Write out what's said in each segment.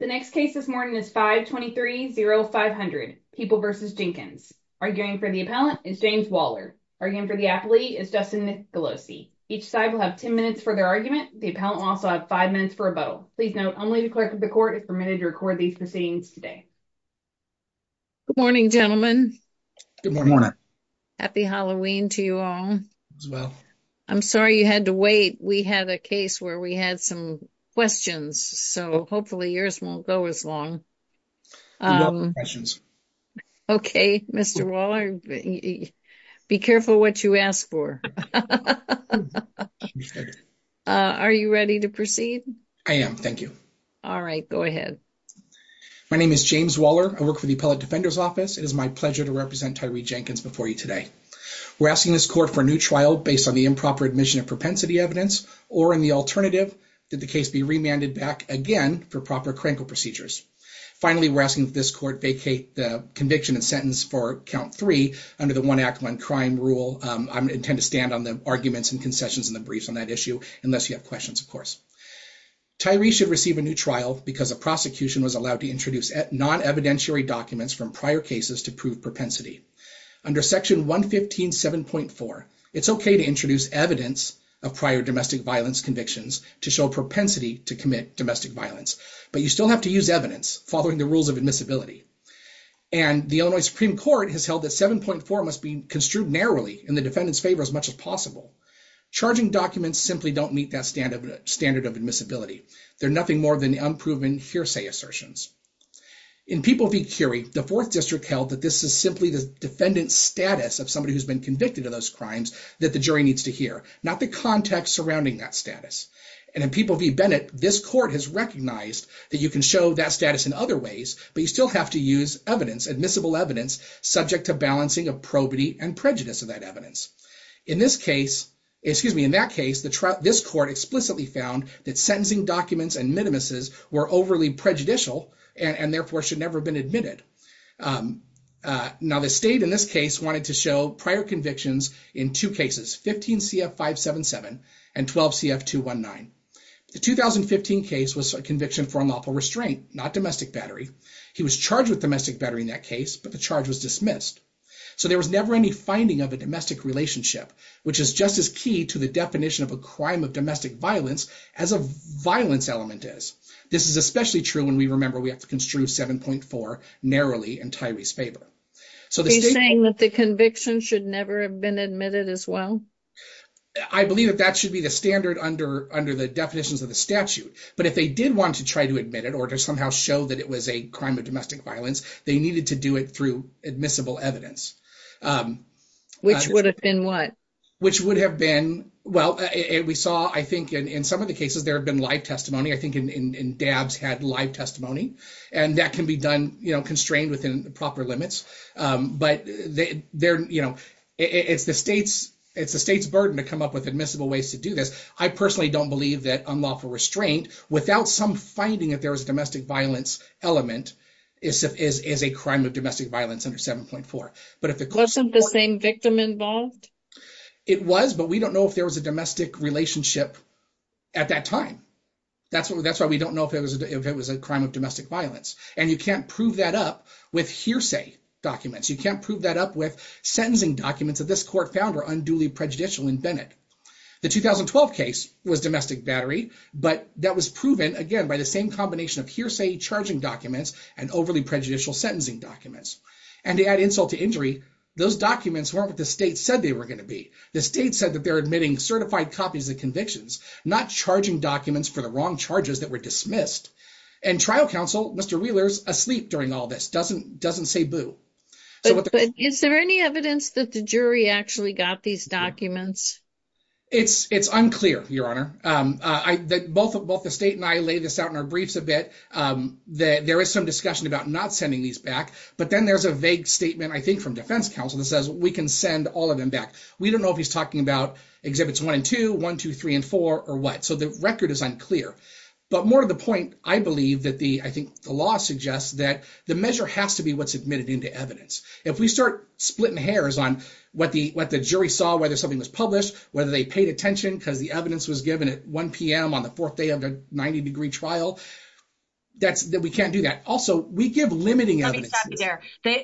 The next case this morning is 523-0500, People v. Jenkins. Arguing for the appellant is James Waller. Arguing for the athlete is Justin Nicolosi. Each side will have 10 minutes for their argument. The appellant will also have 5 minutes for rebuttal. Please note, only the clerk of the court is permitted to record these proceedings today. Good morning, gentlemen. Good morning. Happy Halloween to you all. I'm sorry you had to wait. We had a case where we had some questions, so hopefully yours won't go as long. Okay, Mr. Waller, be careful what you ask for. Are you ready to proceed? I am, thank you. All right, go ahead. My name is James Waller. I work for the Appellate Defender's Office. It is my pleasure to represent Tyree Jenkins before you today. We're asking this court for a new trial based on the improper admission of propensity evidence, or in the alternative, did the case be remanded back again for proper crankle procedures? Finally, we're asking that this court vacate the conviction and sentence for count three under the one act, one crime rule. I'm going to intend to stand on the arguments and concessions in the briefs on that issue, unless you have questions, of course. Tyree should receive a new trial because the prosecution was allowed to introduce non-evidentiary documents from prior cases to prove propensity. Under section 115.7.4, it's okay to introduce evidence of prior domestic violence convictions to show propensity to commit domestic violence, but you still have to use evidence following the rules of admissibility. The Illinois Supreme Court has held that 7.4 must be construed narrowly in the defendant's favor as much as possible. Charging documents simply don't meet that standard of admissibility. They're nothing more than unproven hearsay assertions. In People v. Curie, the fourth district held that this is simply the defendant's status of somebody who's been convicted of those crimes that the jury needs to hear, not the context surrounding that status. And in People v. Bennett, this court has recognized that you can show that status in other ways, but you still have to use evidence, admissible evidence, subject to balancing of probity and prejudice of that evidence. In this case, excuse me, in that case, this court explicitly found that sentencing documents and minimuses were overly prejudicial and therefore should never have been admitted. Now, the state in this case wanted to show prior convictions in two cases, 15 CF 577 and 12 CF 219. The 2015 case was a conviction for unlawful restraint, not domestic battery. He was charged with domestic battery in that case, but the charge was dismissed. So there was never any finding of a domestic relationship, which is just as key to the definition of a crime of domestic violence as a violence element is. This is especially true when we remember we have to construe 7.4 narrowly in Tyree's favor. So the conviction should never have been admitted as well. I believe that that should be the standard under the definitions of the statute. But if they did want to try to admit it or to somehow show that it was a crime of domestic violence, they needed to do it through admissible evidence. Which would have been what? Which would have been, well, we saw, I think in some of the cases there have been live testimony, I think in dabs had live testimony and that can be done, constrained within the proper limits. But it's the state's burden to come up with admissible ways to do this. I personally don't believe that unlawful restraint without some finding that there was a domestic violence element is a crime of domestic violence under 7.4. But if it wasn't the same victim involved. It was, but we don't know if there was a domestic relationship at that time. That's why we don't know if it was a crime of domestic violence. And you can't prove that up with hearsay documents. You can't prove that up with sentencing documents that this court found are unduly prejudicial in Bennett. The 2012 case was domestic battery, but that was proven again by the same combination of hearsay charging documents and overly prejudicial sentencing documents. And to add insult to injury, those documents weren't what the state said they were going to be. The state said that admitting certified copies of convictions, not charging documents for the wrong charges that were dismissed and trial counsel, Mr. Wheeler's asleep during all this doesn't say boo. Is there any evidence that the jury actually got these documents? It's unclear your honor. Both the state and I laid this out in our briefs a bit. There is some discussion about not sending these back, but then there's a vague statement, I think from defense counsel that says we can send all of them back. We don't know if he's talking about exhibits one and two, one, two, three, and four or what. So the record is unclear, but more of the point, I believe that the, I think the law suggests that the measure has to be what's admitted into evidence. If we start splitting hairs on what the, what the jury saw, whether something was published, whether they paid attention because the evidence was given at 1 PM on the fourth day of the 90 degree trial. That's that we can't do that. Also we give limiting evidence.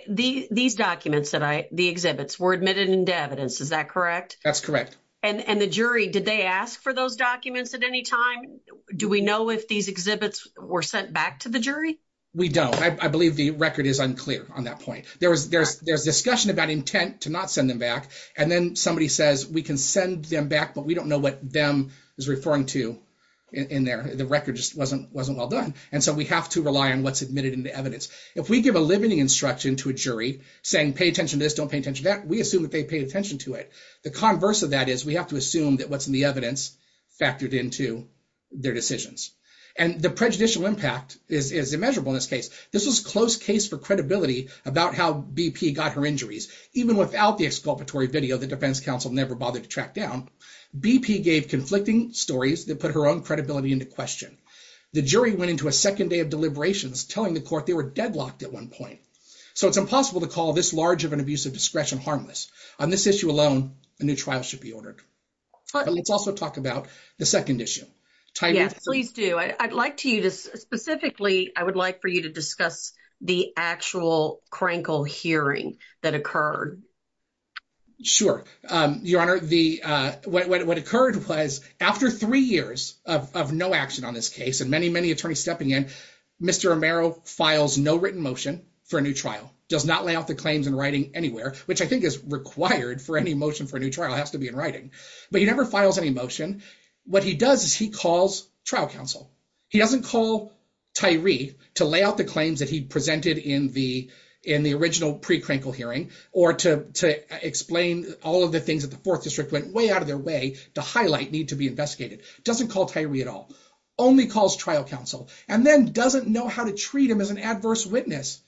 These documents that I, the exhibits were admitted into evidence. Is that correct? That's correct. And, and the jury, did they ask for those documents at any time? Do we know if these exhibits were sent back to the jury? We don't, I believe the record is unclear on that point. There was, there's, there's discussion about intent to not send them back. And then somebody says we can send them back, but we don't know what them is referring to in there. The record just wasn't, wasn't well done. And so we have to rely on what's admitted into evidence. If we give a limiting instruction to a jury saying, pay attention to this, don't pay attention to that. We assume that they paid attention to it. The converse of that is we have to assume that what's in the evidence factored into their decisions. And the prejudicial impact is, is immeasurable in this case. This was close case for credibility about how BP got her injuries. Even without the exculpatory video, the defense council never bothered to track down. BP gave conflicting stories that put her own credibility into question. The jury went into a second day of deliberations telling the court they were deadlocked at one point. So it's impossible to call this large of an abuse of discretion harmless. On this issue alone, a new trial should be ordered. But let's also talk about the second issue. Please do. I'd like to you to specifically, I would like for you to discuss the actual crankle hearing that occurred. Sure. Um, your honor, the, uh, what, what, what occurred was after three years of, of no action on this case and many, many attorneys Mr. Romero files, no written motion for a new trial does not lay out the claims in writing anywhere, which I think is required for any motion for a new trial has to be in writing, but he never files any motion. What he does is he calls trial counsel. He doesn't call Tyree to lay out the claims that he presented in the, in the original pre-crankle hearing, or to, to explain all of the things that the fourth district went way out of their way to highlight need to be investigated. Doesn't call Tyree at all. Only calls trial counsel and then doesn't know how to treat him as an adverse witness.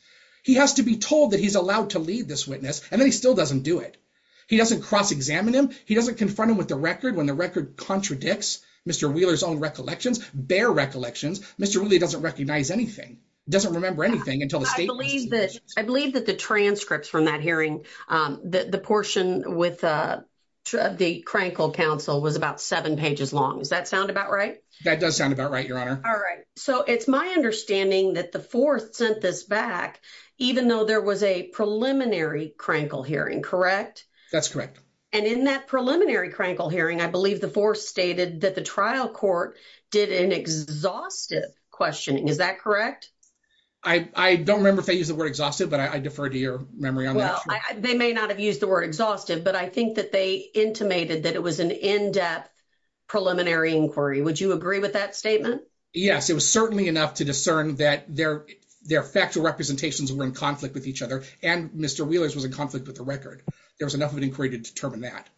He has to be told that he's allowed to lead this witness. And then he still doesn't do it. He doesn't cross examine him. He doesn't confront him with the record when the record contradicts Mr. Wheeler's own recollections, bare recollections. Mr. Wheeler doesn't recognize anything. Doesn't remember anything until the state. I believe that the transcripts from that hearing, um, the, the portion with, uh, the crankle counsel was about seven pages long. Does that sound about right? That does sound about right. Your honor. All right. So it's my understanding that the fourth sent this back, even though there was a preliminary crankle hearing, correct? That's correct. And in that preliminary crankle hearing, I believe the fourth stated that the trial court did an exhaustive questioning. Is that correct? I, I don't remember if they use the word exhaustive, but I defer to your memory on that. They may not have used the word exhaustive, but I think that they intimated that it was an in-depth preliminary inquiry. Would you agree with that statement? Yes. It was certainly enough to discern that their, their factual representations were in conflict with each other. And Mr. Wheeler's was in conflict with the record. There was enough of an inquiry to determine that.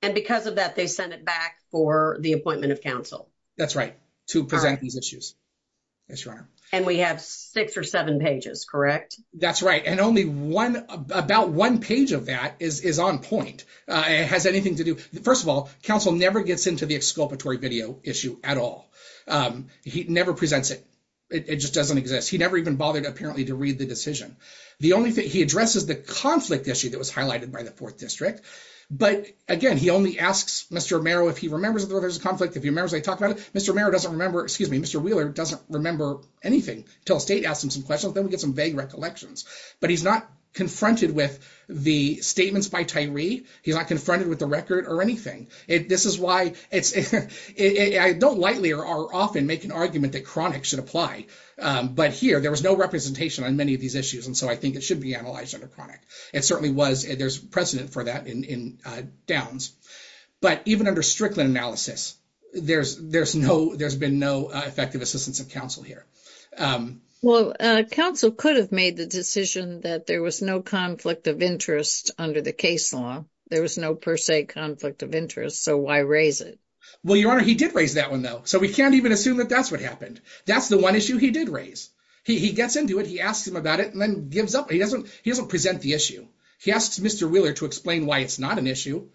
And because of that, they sent it back for the appointment of counsel. That's right. To present these issues. Yes, your honor. And we have six or seven pages, correct? That's right. And only one about one page of that is, is on point. Uh, it has anything to do. First of all, counsel never gets into the exculpatory video issue at all. Um, he never presents it. It just doesn't exist. He never even bothered apparently to read the decision. The only thing he addresses the conflict issue that was highlighted by the fourth district. But again, he only asks Mr. Romero, if he remembers that there was a conflict, if he remembers, I talked about it. Mr. Merritt doesn't remember, excuse me, Mr. Wheeler doesn't remember anything until state asked him some questions. Then we get some vague recollections, but he's not confronted with the statements by Tyree. He's not confronted with the record or anything. It, this is why it's, I don't lightly or are often make an argument that chronic should apply. Um, but here there was no representation on many of these issues. And so I think it should be analyzed under chronic. It certainly was there's precedent for that in, in, uh, downs, but even under Strickland analysis, there's, there's no, there's been no effective assistance of counsel here. Um, well, uh, counsel could have made the decision that there was no conflict of interest under the case law. There was no per se conflict of interest. So why raise it? Well, your honor, he did raise that one though. So we can't even assume that that's what happened. That's the one issue he did raise. He gets into it. He asked him about it and then gives up. He doesn't, he doesn't present the issue. He asks Mr. Wheeler to explain why it's not an issue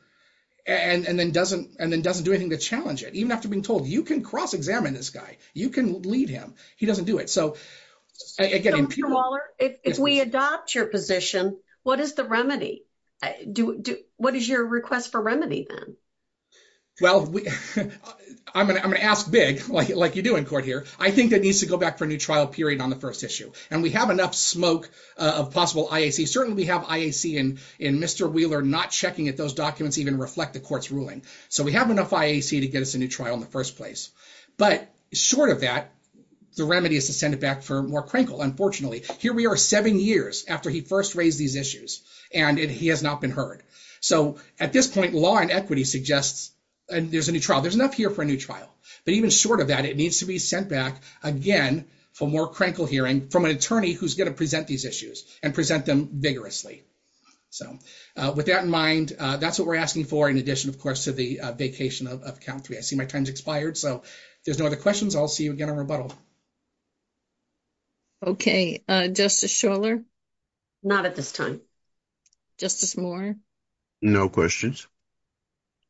and, and then doesn't, and then doesn't do anything to challenge it. Even after being you can cross examine this guy. You can lead him. He doesn't do it. So if we adopt your position, what is the remedy? Do what is your request for remedy then? Well, I'm going to, I'm going to ask big, like, like you do in court here. I think that needs to go back for a new trial period on the first issue. And we have enough smoke of possible IAC. Certainly we have IAC in, in Mr. Wheeler, not checking at those documents, even reflect the But short of that, the remedy is to send it back for more crinkle. Unfortunately, here we are seven years after he first raised these issues and he has not been heard. So at this point, law and equity suggests there's a new trial. There's enough here for a new trial, but even short of that, it needs to be sent back again for more crinkle hearing from an attorney who's going to present these issues and present them vigorously. So with that in mind, that's what we're asking for. In addition, of course, to the vacation of count three, I see my time's expired. So if there's no other questions, I'll see you again on rebuttal. Okay. Uh, justice Shuler. Not at this time. Justice Moore. No questions.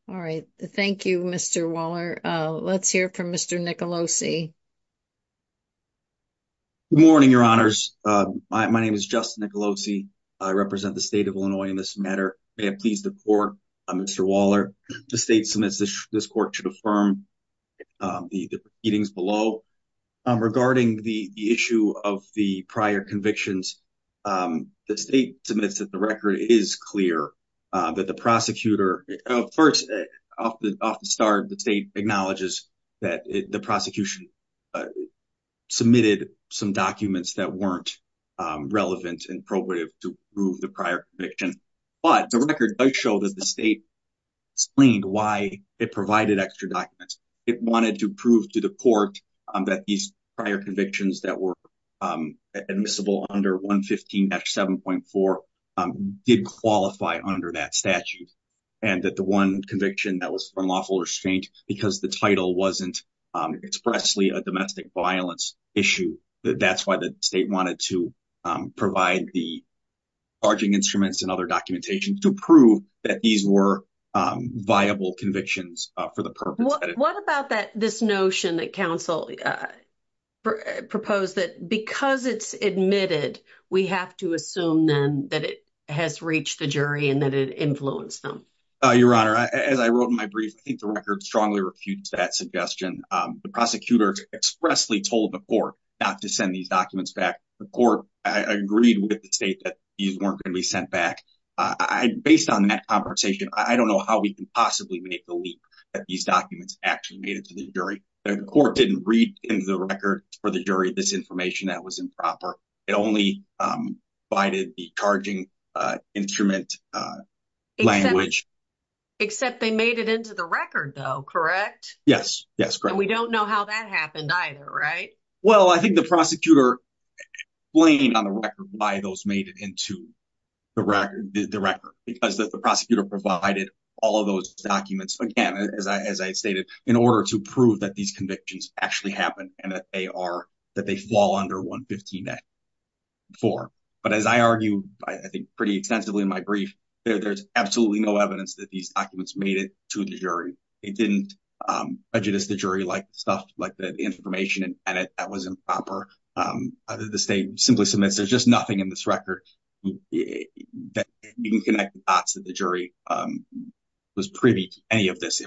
All right. Thank you, Mr. Waller. Uh, let's hear from Mr. Nicolosi. Good morning, your honors. Uh, my, my name is Justin Nicolosi. I represent the state of Illinois in this matter. May I please the court, Mr. Waller, the state submits this court should affirm, um, the readings below, um, regarding the issue of the prior convictions. Um, the state submits that the record is clear, uh, that the prosecutor, uh, first off the, off the start, the state acknowledges that the prosecution, uh, submitted some documents that weren't, um, relevant and probative to prove the prior conviction, but the record does show that the state explained why it provided extra documents. It wanted to prove to the court that these prior convictions that were, um, admissible under one 15 dash 7.4, um, did qualify under that statute. And that the one conviction that was unlawful or strained because the title wasn't, um, expressly domestic violence issue. That's why the state wanted to, um, provide the arching instruments and other documentation to prove that these were, um, viable convictions for the purpose. What about that? This notion that council, uh, proposed that because it's admitted, we have to assume then that it has reached the jury and that it influenced them. Uh, your honor, as I wrote in my brief, I think the record strongly refutes that suggestion. The prosecutor expressly told the court not to send these documents back. The court agreed with the state that these weren't going to be sent back. I, based on that conversation, I don't know how we can possibly make the leap that these documents actually made it to the jury. The court didn't read into the record for the jury, this information that was improper. It only, um, provided the charging, uh, instrument, uh, language. Except they made it into the record though. Correct? Yes. Yes. Great. We don't know how that happened either. Right? Well, I think the prosecutor blame on the record by those made it into the record, the record, because the prosecutor provided all of those documents. Again, as I, as I stated in order to prove that these convictions actually happen and that they are, that they fall under one 15 for, but as I argue, I think pretty extensively in my brief there, there's absolutely no evidence that these documents made it to the jury. It didn't, um, prejudice the jury like stuff, like the information and edit that was improper. Um, other than the state simply submits, there's just nothing in this record that you can connect the dots that the jury, um, was privy to any of this.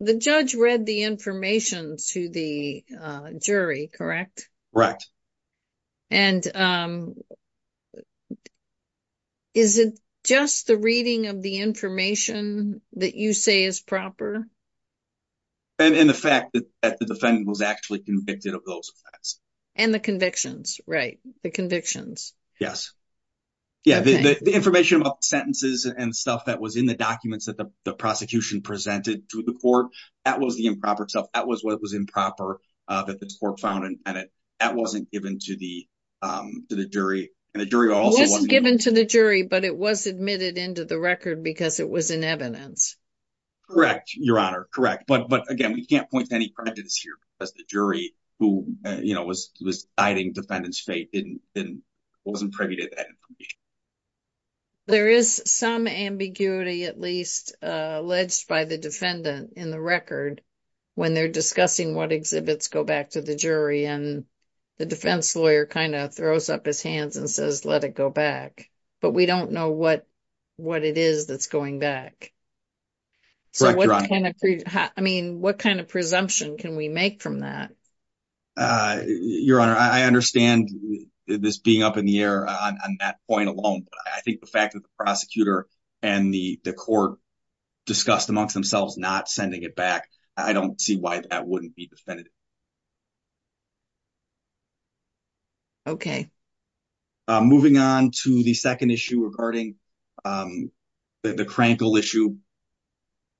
The judge read the information to the, uh, jury, correct? Correct. And, um, is it just the reading of the information that you say is proper? And, and the fact that the defendant was actually convicted of those and the convictions, right? The convictions. Yes. Yeah. The, the, the information about sentences and stuff that was in the documents that the prosecution presented to the court, that was the improper stuff. That was what was improper, uh, that the court found. And, and it, wasn't given to the, um, to the jury and the jury also wasn't given to the jury, but it was admitted into the record because it was in evidence. Correct. Your honor. Correct. But, but again, we can't point to any prejudice here because the jury who, you know, was, was hiding defendant's fate. Didn't, didn't, wasn't privy to that. There is some ambiguity, at least, uh, alleged by the defendant in the record when they're discussing what exhibits go back to the jury and the defense lawyer kind of throws up his hands and says, let it go back. But we don't know what, what it is that's going back. So what kind of, I mean, what kind of presumption can we make from that? Uh, your honor, I understand this being up in the air on that point alone, but I think the fact that the prosecutor and the court discussed amongst themselves, not sending it back, I don't see why that wouldn't be definitive. Okay. Moving on to the second issue regarding, um, the, the crankle issue.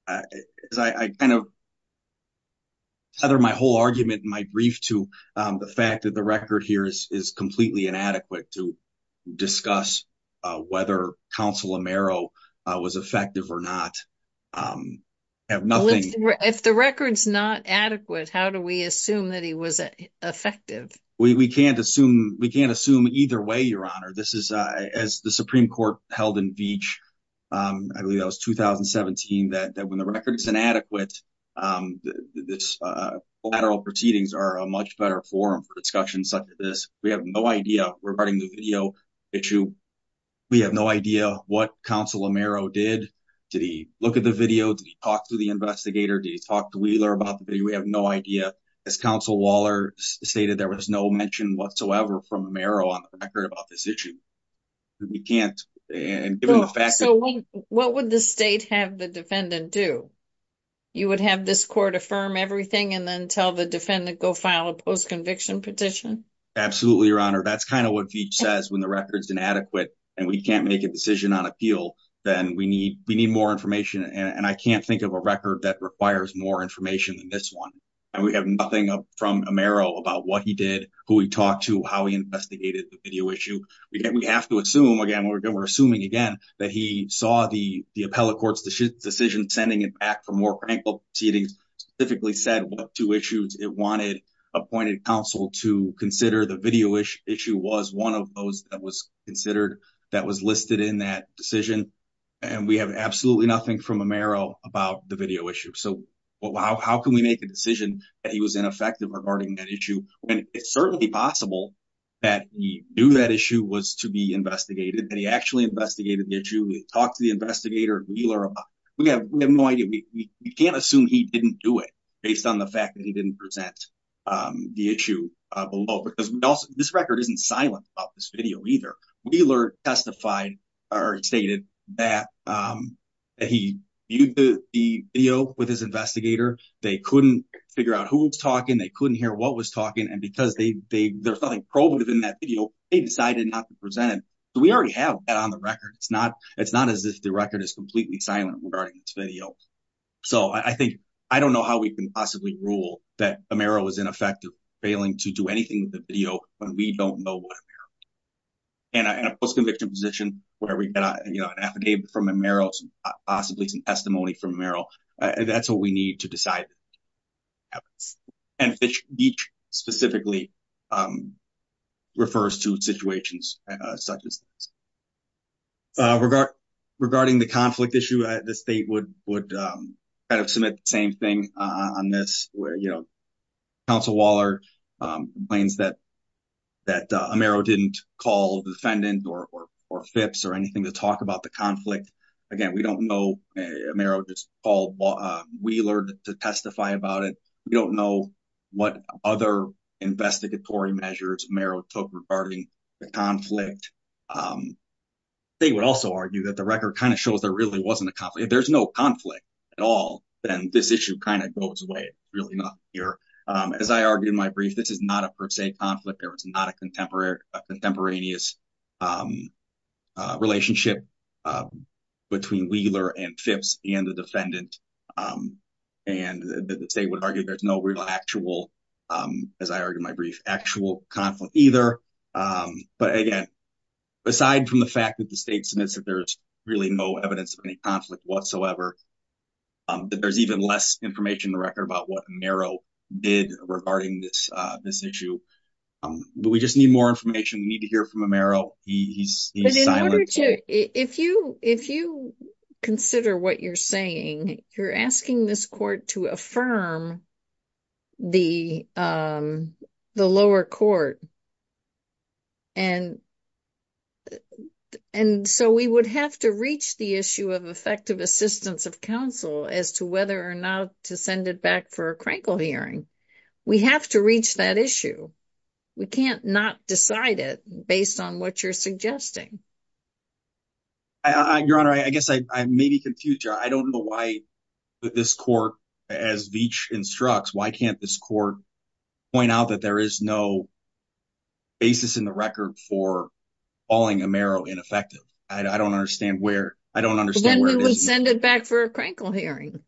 As I kind of tether my whole argument in my brief to, um, the fact that the record here is, is completely inadequate to discuss, uh, whether counsel Amaro, uh, was effective or not. Um, I have nothing. If the record's not adequate, how do we assume that he was effective? We, we can't assume, we can't assume either way, your honor. This is, uh, as the Supreme court held in beach, um, I believe that was 2017 that, that when the record is inadequate, um, this, uh, lateral proceedings are a much better forum for discussions such as this. We have no idea what counsel Amaro did. Did he look at the video? Did he talk to the investigator? Did he talk to Wheeler about the video? We have no idea. As counsel Waller stated, there was no mention whatsoever from Amaro on the record about this issue. We can't. And given the fact, what would the state have the defendant do? You would have this court affirm everything and then tell the defendant, go file a post conviction petition. Absolutely. Your honor. That's kind of what V says when the record's inadequate and we can't make a decision on appeal, then we need, we need more information. And I can't think of a record that requires more information than this one. And we have nothing from Amaro about what he did, who he talked to, how he investigated the video issue. We get, we have to assume again, we're assuming again, that he saw the, the appellate court's decision, sending it back for more frank proceedings, typically said what two issues it wanted appointed counsel to consider the video issue was one of those that was considered that was listed in that decision. And we have absolutely nothing from Amaro about the video issue. So how can we make a decision that he was ineffective regarding that issue when it's certainly possible that he knew that issue was to be investigated and he actually investigated the issue. We talked to the investigator Wheeler. We have no idea. We can't he didn't do it based on the fact that he didn't present the issue below because we also, this record isn't silent about this video either. Wheeler testified or stated that he viewed the video with his investigator. They couldn't figure out who was talking. They couldn't hear what was talking. And because they, they, there's nothing probative in that video. They decided not to present it. So we already have that on the record. It's not, it's not as if the record is completely silent regarding its video. So I think, I don't know how we can possibly rule that Amaro was ineffective failing to do anything with the video when we don't know what Amaro did. In a post conviction position where we get an affidavit from Amaro, possibly some testimony from Amaro, that's what we need to decide. And each specifically refers to situations such as this. Regarding the conflict issue, the state would would kind of submit the same thing on this where, you know, counsel Waller claims that that Amaro didn't call the defendant or FIPS or anything to talk about the conflict. Again, we don't know. Amaro just called Wheeler to testify about it. We don't know what other investigatory measures Amaro took regarding the conflict. They would also argue that the record kind of shows there really wasn't a conflict. If there's no conflict at all, then this issue kind of goes away. It's really not here. As I argued in my brief, this is not a per se conflict or it's not a contemporaneous relationship between Wheeler and FIPS and the defendant. And the state would argue there's no real actual, as I argued in my brief, there's no evidence of any conflict whatsoever. There's even less information in the record about what Amaro did regarding this issue. But we just need more information. We need to hear from Amaro. He's silent. But in order to, if you consider what you're saying, you're asking this court to affirm the lower court. And so we would have to reach the issue of effective assistance of counsel as to whether or not to send it back for a crankle hearing. We have to reach that issue. We can't not decide it based on what you're suggesting. Your Honor, I guess I may be confused here. I don't know why this court, as Veach instructs, why can't this court point out that there is no basis in the record for calling Amaro ineffective? I don't understand where, I don't understand where it is. Then we would send it back for a crankle hearing.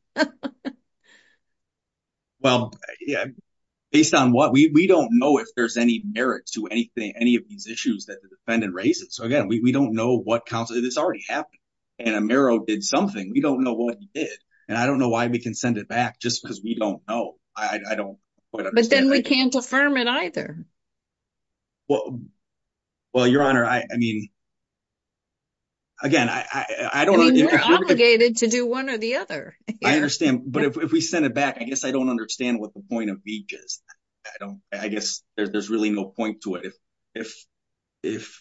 Well, yeah. Based on what? We don't know if there's any merit to anything, any of these we don't know what counsel, it's already happened. And Amaro did something. We don't know what he did. And I don't know why we can send it back just because we don't know. I don't quite understand. But then we can't affirm it either. Well, Your Honor, I mean, again, I don't know. You're obligated to do one or the other. I understand. But if we send it back, I guess I don't understand what the point of Veach is. I guess there's really no point to it. If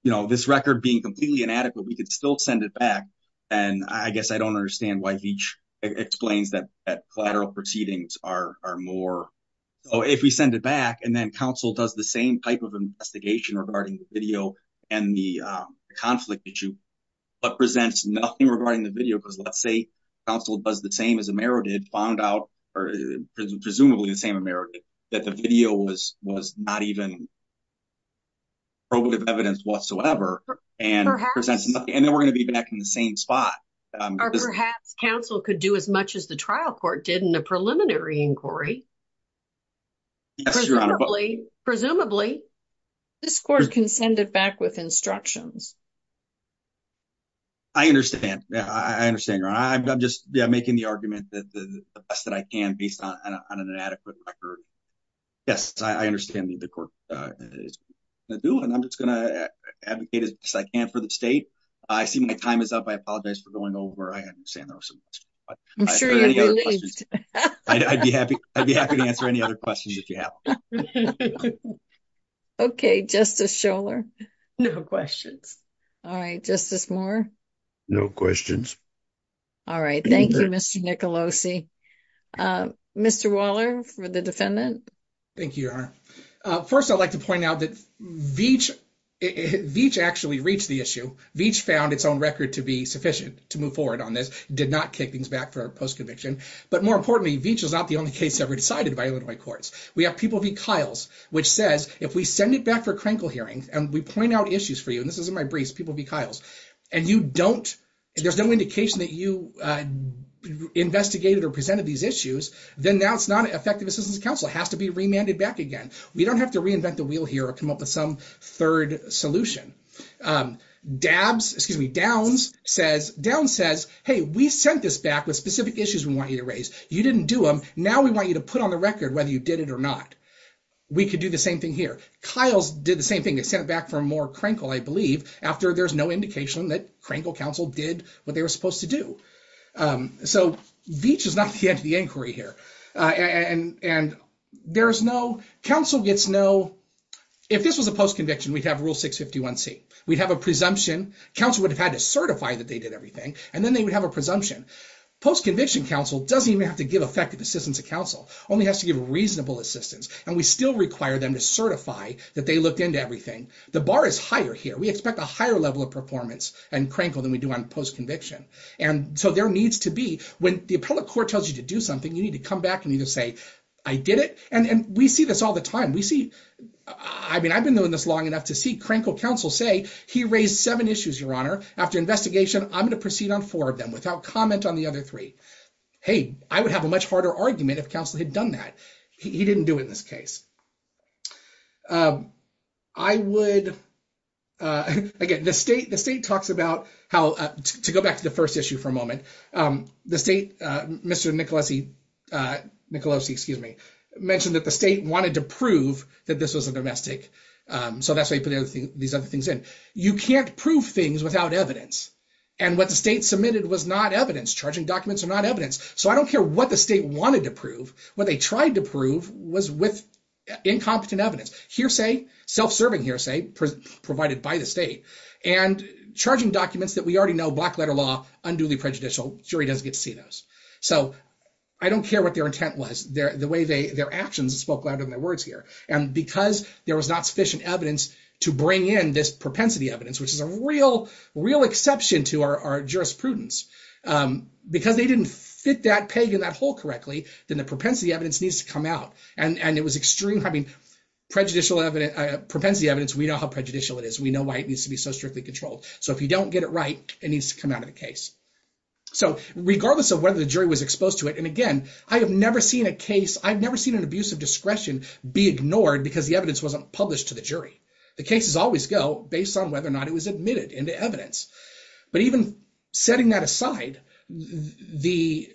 this record being completely inadequate, we could still send it back. And I guess I don't understand why Veach explains that collateral proceedings are more. So if we send it back and then counsel does the same type of investigation regarding the video and the conflict issue, but presents nothing regarding the video, because let's say counsel does the same as Amaro did, found out, or presumably the same Amaro did, that the video was not even probative evidence whatsoever. And then we're going to be back in the same spot. Or perhaps counsel could do as much as the trial court did in the preliminary inquiry. Presumably. Presumably. This court can send it back with instructions. I understand. I understand, Your Honor. I'm just making the argument that the best that I can, based on an inadequate record. Yes, I understand that the court is going to do it. And I'm just going to advocate as best I can for the state. I see my time is up. I apologize for going over. I understand there were some questions. I'm sure you're relieved. I'd be happy to answer any other questions if you have them. Okay, Justice Scholar. No questions. All right, Justice Moore. No questions. All right. Thank you, Mr. Nicolosi. Mr. Waller for the defendant. Thank you, Your Honor. First, I'd like to point out that Veatch actually reached the issue. Veatch found its own record to be sufficient to move forward on this. Did not kick things back for post-conviction. But more importantly, Veatch is not the only case ever decided by Illinois courts. We have People v. Kiles, which says if we send it back for a crankle hearing, and we point out issues for you, and this is in my briefs, People v. Kiles, and you don't, there's no indication that you investigated or presented these issues, then now it's not an effective assistance to counsel. It has to be remanded back again. We don't have to reinvent the wheel here or come up with some third solution. Downs says, hey, we sent this back with specific issues we want you to raise. You didn't do them. Now we want you to put on the record whether you did it or not. We could do the same thing here. Kiles did the same thing. They sent it back for a more crankle, I believe, after there's no indication that crankle counsel did what they were supposed to do. So Veatch is not the end of the inquiry here. And if this was a post-conviction, we'd have rule 651C. We'd have a presumption. Counsel would have had to certify that they did everything. And then they would have a presumption. Post-conviction counsel doesn't even have to give effective assistance to counsel, only has to give reasonable assistance. And we still require them to certify that they looked into everything. The bar is higher here. We expect a higher level of performance and crankle than we do on post-conviction. And so there needs to be, when the appellate court tells you to do something, you need to come back and you can say, I did it. And we see this all the time. We see, I mean, I've been doing this long enough to see crankle counsel say, he raised seven issues, Your Honor. After investigation, I'm going to proceed on four of them without comment on the other three. Hey, I would have a much harder argument if counsel had done that. He didn't do it in this case. I would, again, the state talks about how, to go back to the first issue for a moment, the state, Mr. Nicolosi mentioned that the state wanted to prove that this was a domestic. So that's why he put these other things in. You can't prove things without evidence. And what the state submitted was not evidence. Charging documents are not evidence. So I don't care what the state wanted to prove. What they tried to prove was with incompetent evidence, hearsay, self-serving hearsay provided by the state. And charging documents that we already know, black letter law, unduly prejudicial. Jury doesn't get to see those. So I don't care what their intent was, the way their actions spoke louder than their words here. And because there was not sufficient evidence to bring in this propensity evidence, which is a real, real exception to our jurisprudence, because they didn't fit that peg in that hole correctly, then the propensity evidence needs to come out. And it was extremely, I mean, prejudicial evidence, propensity evidence, we know how strictly controlled. So if you don't get it right, it needs to come out of the case. So regardless of whether the jury was exposed to it, and again, I have never seen a case, I've never seen an abuse of discretion be ignored because the evidence wasn't published to the jury. The cases always go based on whether or not it was admitted into evidence. But even setting that aside, the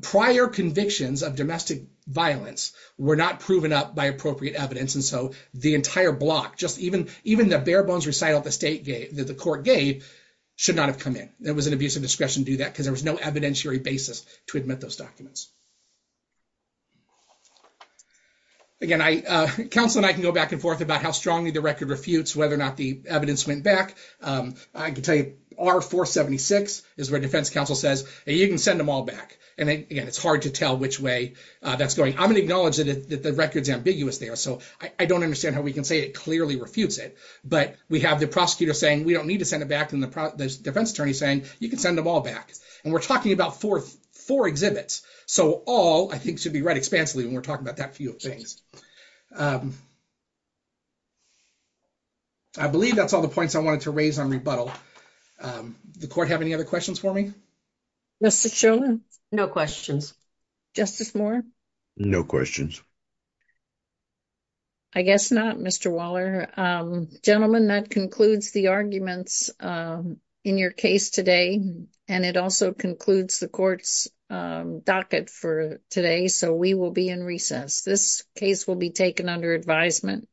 prior convictions of domestic violence were not proven up by appropriate evidence. And so the entire block, just even the bare bones recital that the court gave should not have come in. It was an abuse of discretion to do that because there was no evidentiary basis to admit those documents. Again, counsel and I can go back and forth about how strongly the record refutes whether or not the evidence went back. I can tell you R-476 is where defense counsel says, you can send them all back. And again, it's hard to tell which way that's going. I'm going to we can say it clearly refutes it, but we have the prosecutor saying we don't need to send it back and the defense attorney saying you can send them all back. And we're talking about four exhibits. So all I think should be read expansively when we're talking about that few things. I believe that's all the points I wanted to raise on rebuttal. The court have any other questions for me? Mr. Chauvin, no questions. Justice Moore? No questions. I guess not, Mr. Waller. Gentlemen, that concludes the arguments in your case today. And it also concludes the court's docket for today. So we will be in recess. This case will be taken under advisement.